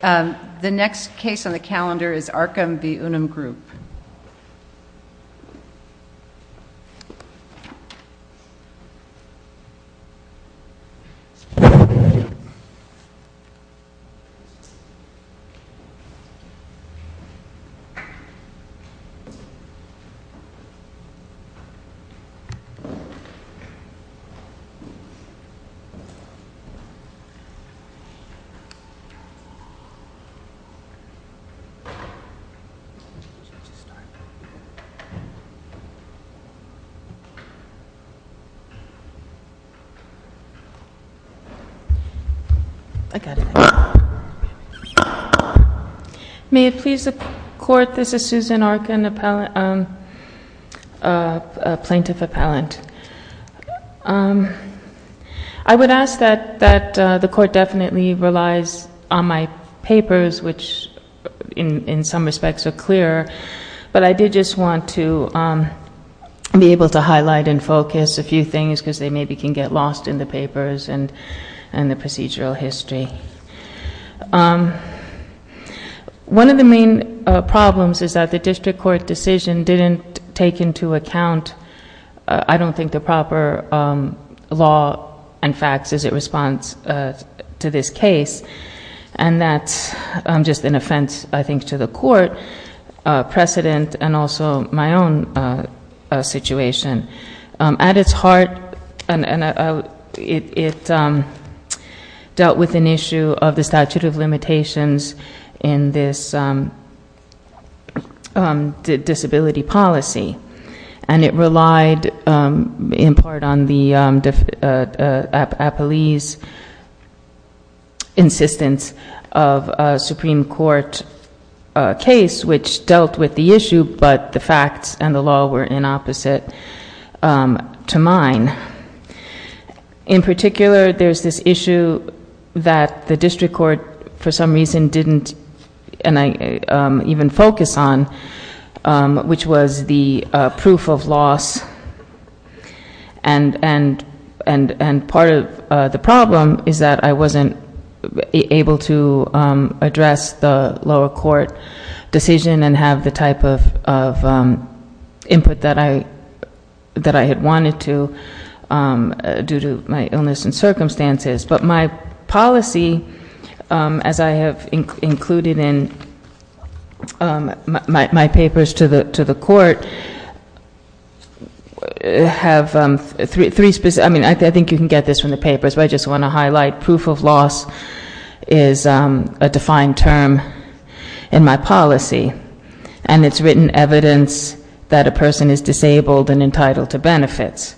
The next case on the calendar is Arkun v. Unum Group. May it please the Court, this is Susan Arkun, a plaintiff appellant. I would ask that the Court definitely relies on my papers, which in some respects are clearer, but I did just want to be able to highlight and focus a few things because they maybe can get lost in the papers and the procedural history. One of the main problems is that the district court decision didn't take into account, I don't think the proper law and facts as it responds to this case, and that's just an offense I think to the Court, precedent, and also my own situation. At its heart, it dealt with an issue of the statute of limitations in this disability policy, and it relied in part on the appellee's insistence of a Supreme Court case which dealt with the issue, but the facts and the law were in opposite to mine. In particular, there's this issue that the district court for some reason didn't even focus on, which was the proof of loss, and part of the problem is that I wasn't able to address the lower court decision and have the type of input that I had wanted to due to my illness and my papers to the court have three specific, I mean I think you can get this from the papers, but I just want to highlight proof of loss is a defined term in my policy, and it's written evidence that a person is disabled and entitled to benefits.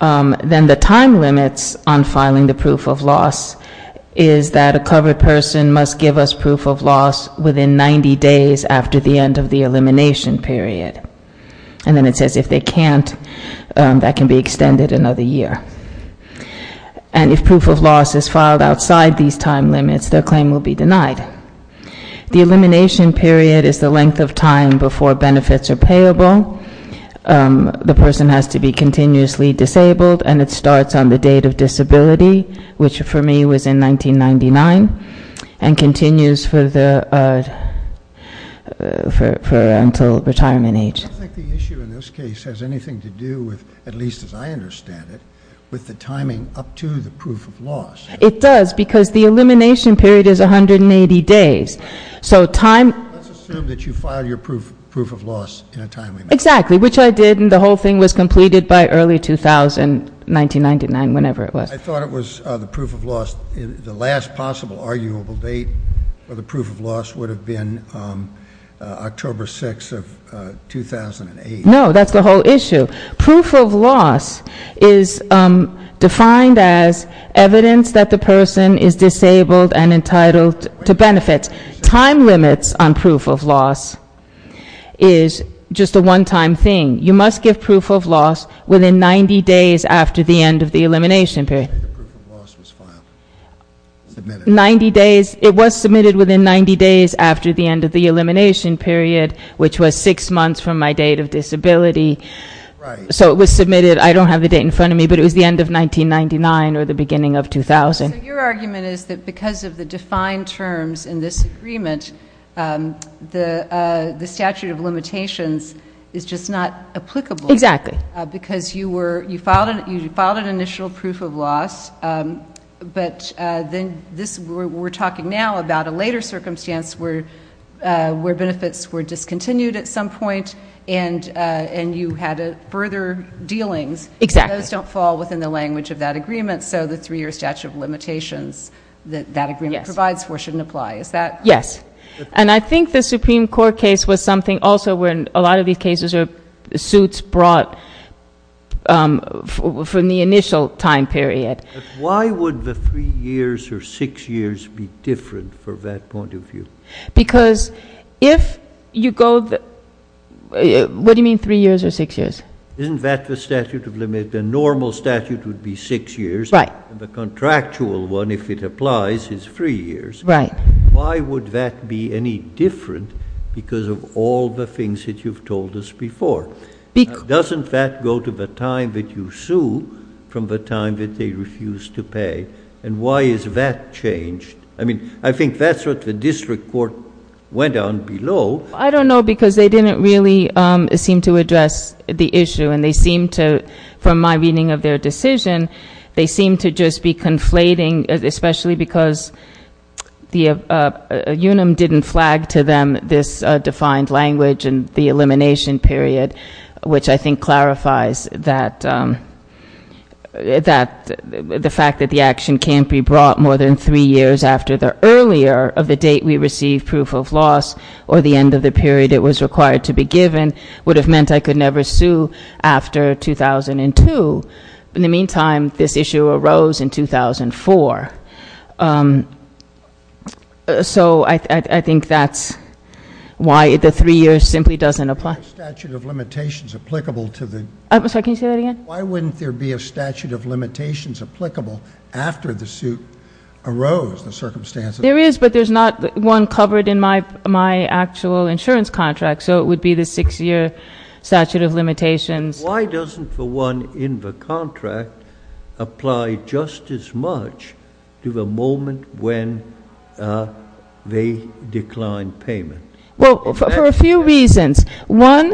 Then the time limits on filing the proof of loss is that a covered person must give us proof of loss within 90 days after the end of the elimination period, and then it says if they can't, that can be extended another year. And if proof of loss is filed outside these time limits, their claim will be denied. The elimination period is the length of time before benefits are payable. The person has to be continuously disabled, and it starts on the date of disability, which for me was in 1999, and continues for until retirement age. I don't think the issue in this case has anything to do with, at least as I understand it, with the timing up to the proof of loss. It does, because the elimination period is 180 days. So time- Let's assume that you filed your proof of loss in a timely manner. Exactly, which I did, and the whole thing was completed by early 2000, 1999, whenever it was. I thought it was the proof of loss, the last possible arguable date for the proof of loss would have been October 6th of 2008. No, that's the whole issue. Proof of loss is defined as evidence that the person is disabled and entitled to benefits. Time limits on proof of loss is just a one-time thing. You must give proof of loss within 90 days after the end of the elimination period. The proof of loss was filed, submitted. 90 days, it was submitted within 90 days after the end of the elimination period, which was six months from my date of disability. Right. So it was submitted, I don't have the date in front of me, but it was the end of 1999 or the beginning of 2000. So your argument is that because of the defined terms in this agreement, the statute of limitations is just not applicable. Exactly. Because you filed an initial proof of loss, but then we're talking now about a later circumstance where benefits were discontinued at some point. And you had further dealings. Exactly. Those don't fall within the language of that agreement, so the three-year statute of limitations that that agreement provides for shouldn't apply. Yes. And I think the Supreme Court case was something also where a lot of these cases are suits brought from the initial time period. Why would the three years or six years be different from that point of view? Because if you go, what do you mean three years or six years? Isn't that the statute of limit, the normal statute would be six years. Right. The contractual one, if it applies, is three years. Right. Why would that be any different because of all the things that you've told us before? Doesn't that go to the time that you sue from the time that they refuse to pay? And why is that changed? I mean, I think that's what the district court went on below. I don't know, because they didn't really seem to address the issue. And they seem to, from my reading of their decision, they seem to just be conflating, especially because UNUM didn't flag to them this defined language and the elimination period, which I think clarifies that the fact that the action can't be brought more than three years after the earlier of the date we receive proof of loss or the end of the period it was required to be given would have meant I could never sue after 2002. In the meantime, this issue arose in 2004. So I think that's why the three years simply doesn't apply. Statute of limitations applicable to the- I'm sorry, can you say that again? Why wouldn't there be a statute of limitations applicable after the suit arose, the circumstances? There is, but there's not one covered in my actual insurance contract, so it would be the six year statute of limitations. Why doesn't the one in the contract apply just as much to the moment when they decline payment? Well, for a few reasons. One,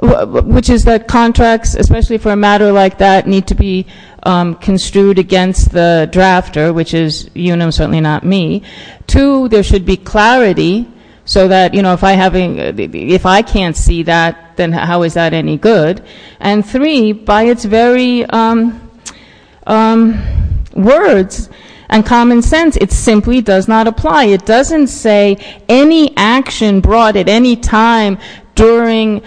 which is that contracts, especially for a matter like that, need to be construed against the drafter, which is UNUM, certainly not me. Two, there should be clarity, so that if I can't see that, then how is that any good? And three, by its very words and common sense, it simply does not apply. It doesn't say any action brought at any time during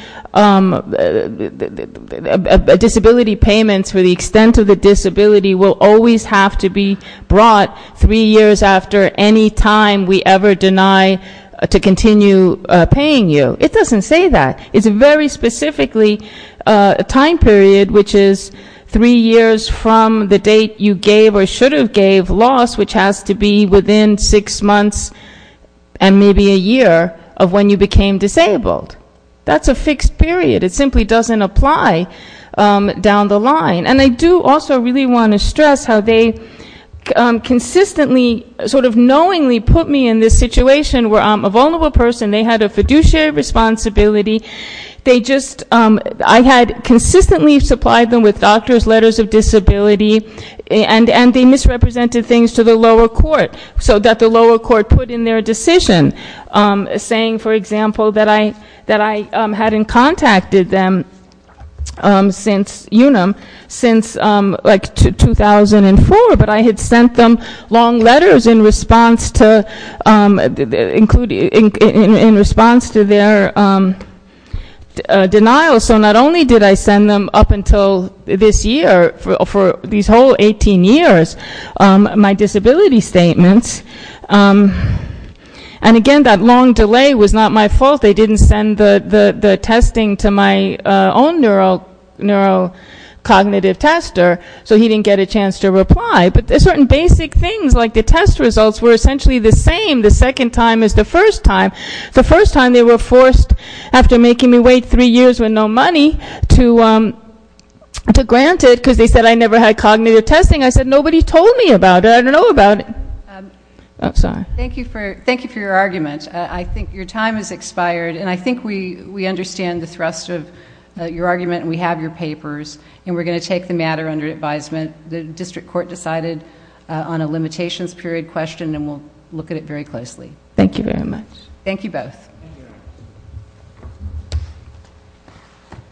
disability payments for the extent of the disability will always have to be brought three years after any time we ever deny to continue paying you. It doesn't say that. It's a very specifically time period, which is three years from the date you gave or should have gave loss, which has to be within six months and maybe a year of when you became disabled. That's a fixed period. It simply doesn't apply down the line. And I do also really want to stress how they consistently, sort of knowingly, put me in this situation where I'm a vulnerable person. They had a fiduciary responsibility. They just, I had consistently supplied them with doctor's letters of disability, and they misrepresented things to the lower court, so that the lower court put in their decision. Saying, for example, that I hadn't contacted them since UNUM, since like 2004, but I had sent them long letters in response to their denial. So not only did I send them up until this year, for these whole 18 years, my disability statements. And again, that long delay was not my fault. They didn't send the testing to my own neurocognitive tester, so he didn't get a chance to reply. But there's certain basic things, like the test results were essentially the same the second time as the first time. The first time they were forced, after making me wait three years with no money, to grant it, because they said I never had cognitive testing. I said, nobody told me about it, I don't know about it. I'm sorry. Thank you for your argument. I think your time has expired, and I think we understand the thrust of your argument, and we have your papers. And we're going to take the matter under advisement. The district court decided on a limitations period question, and we'll look at it very closely. Thank you very much. Thank you both.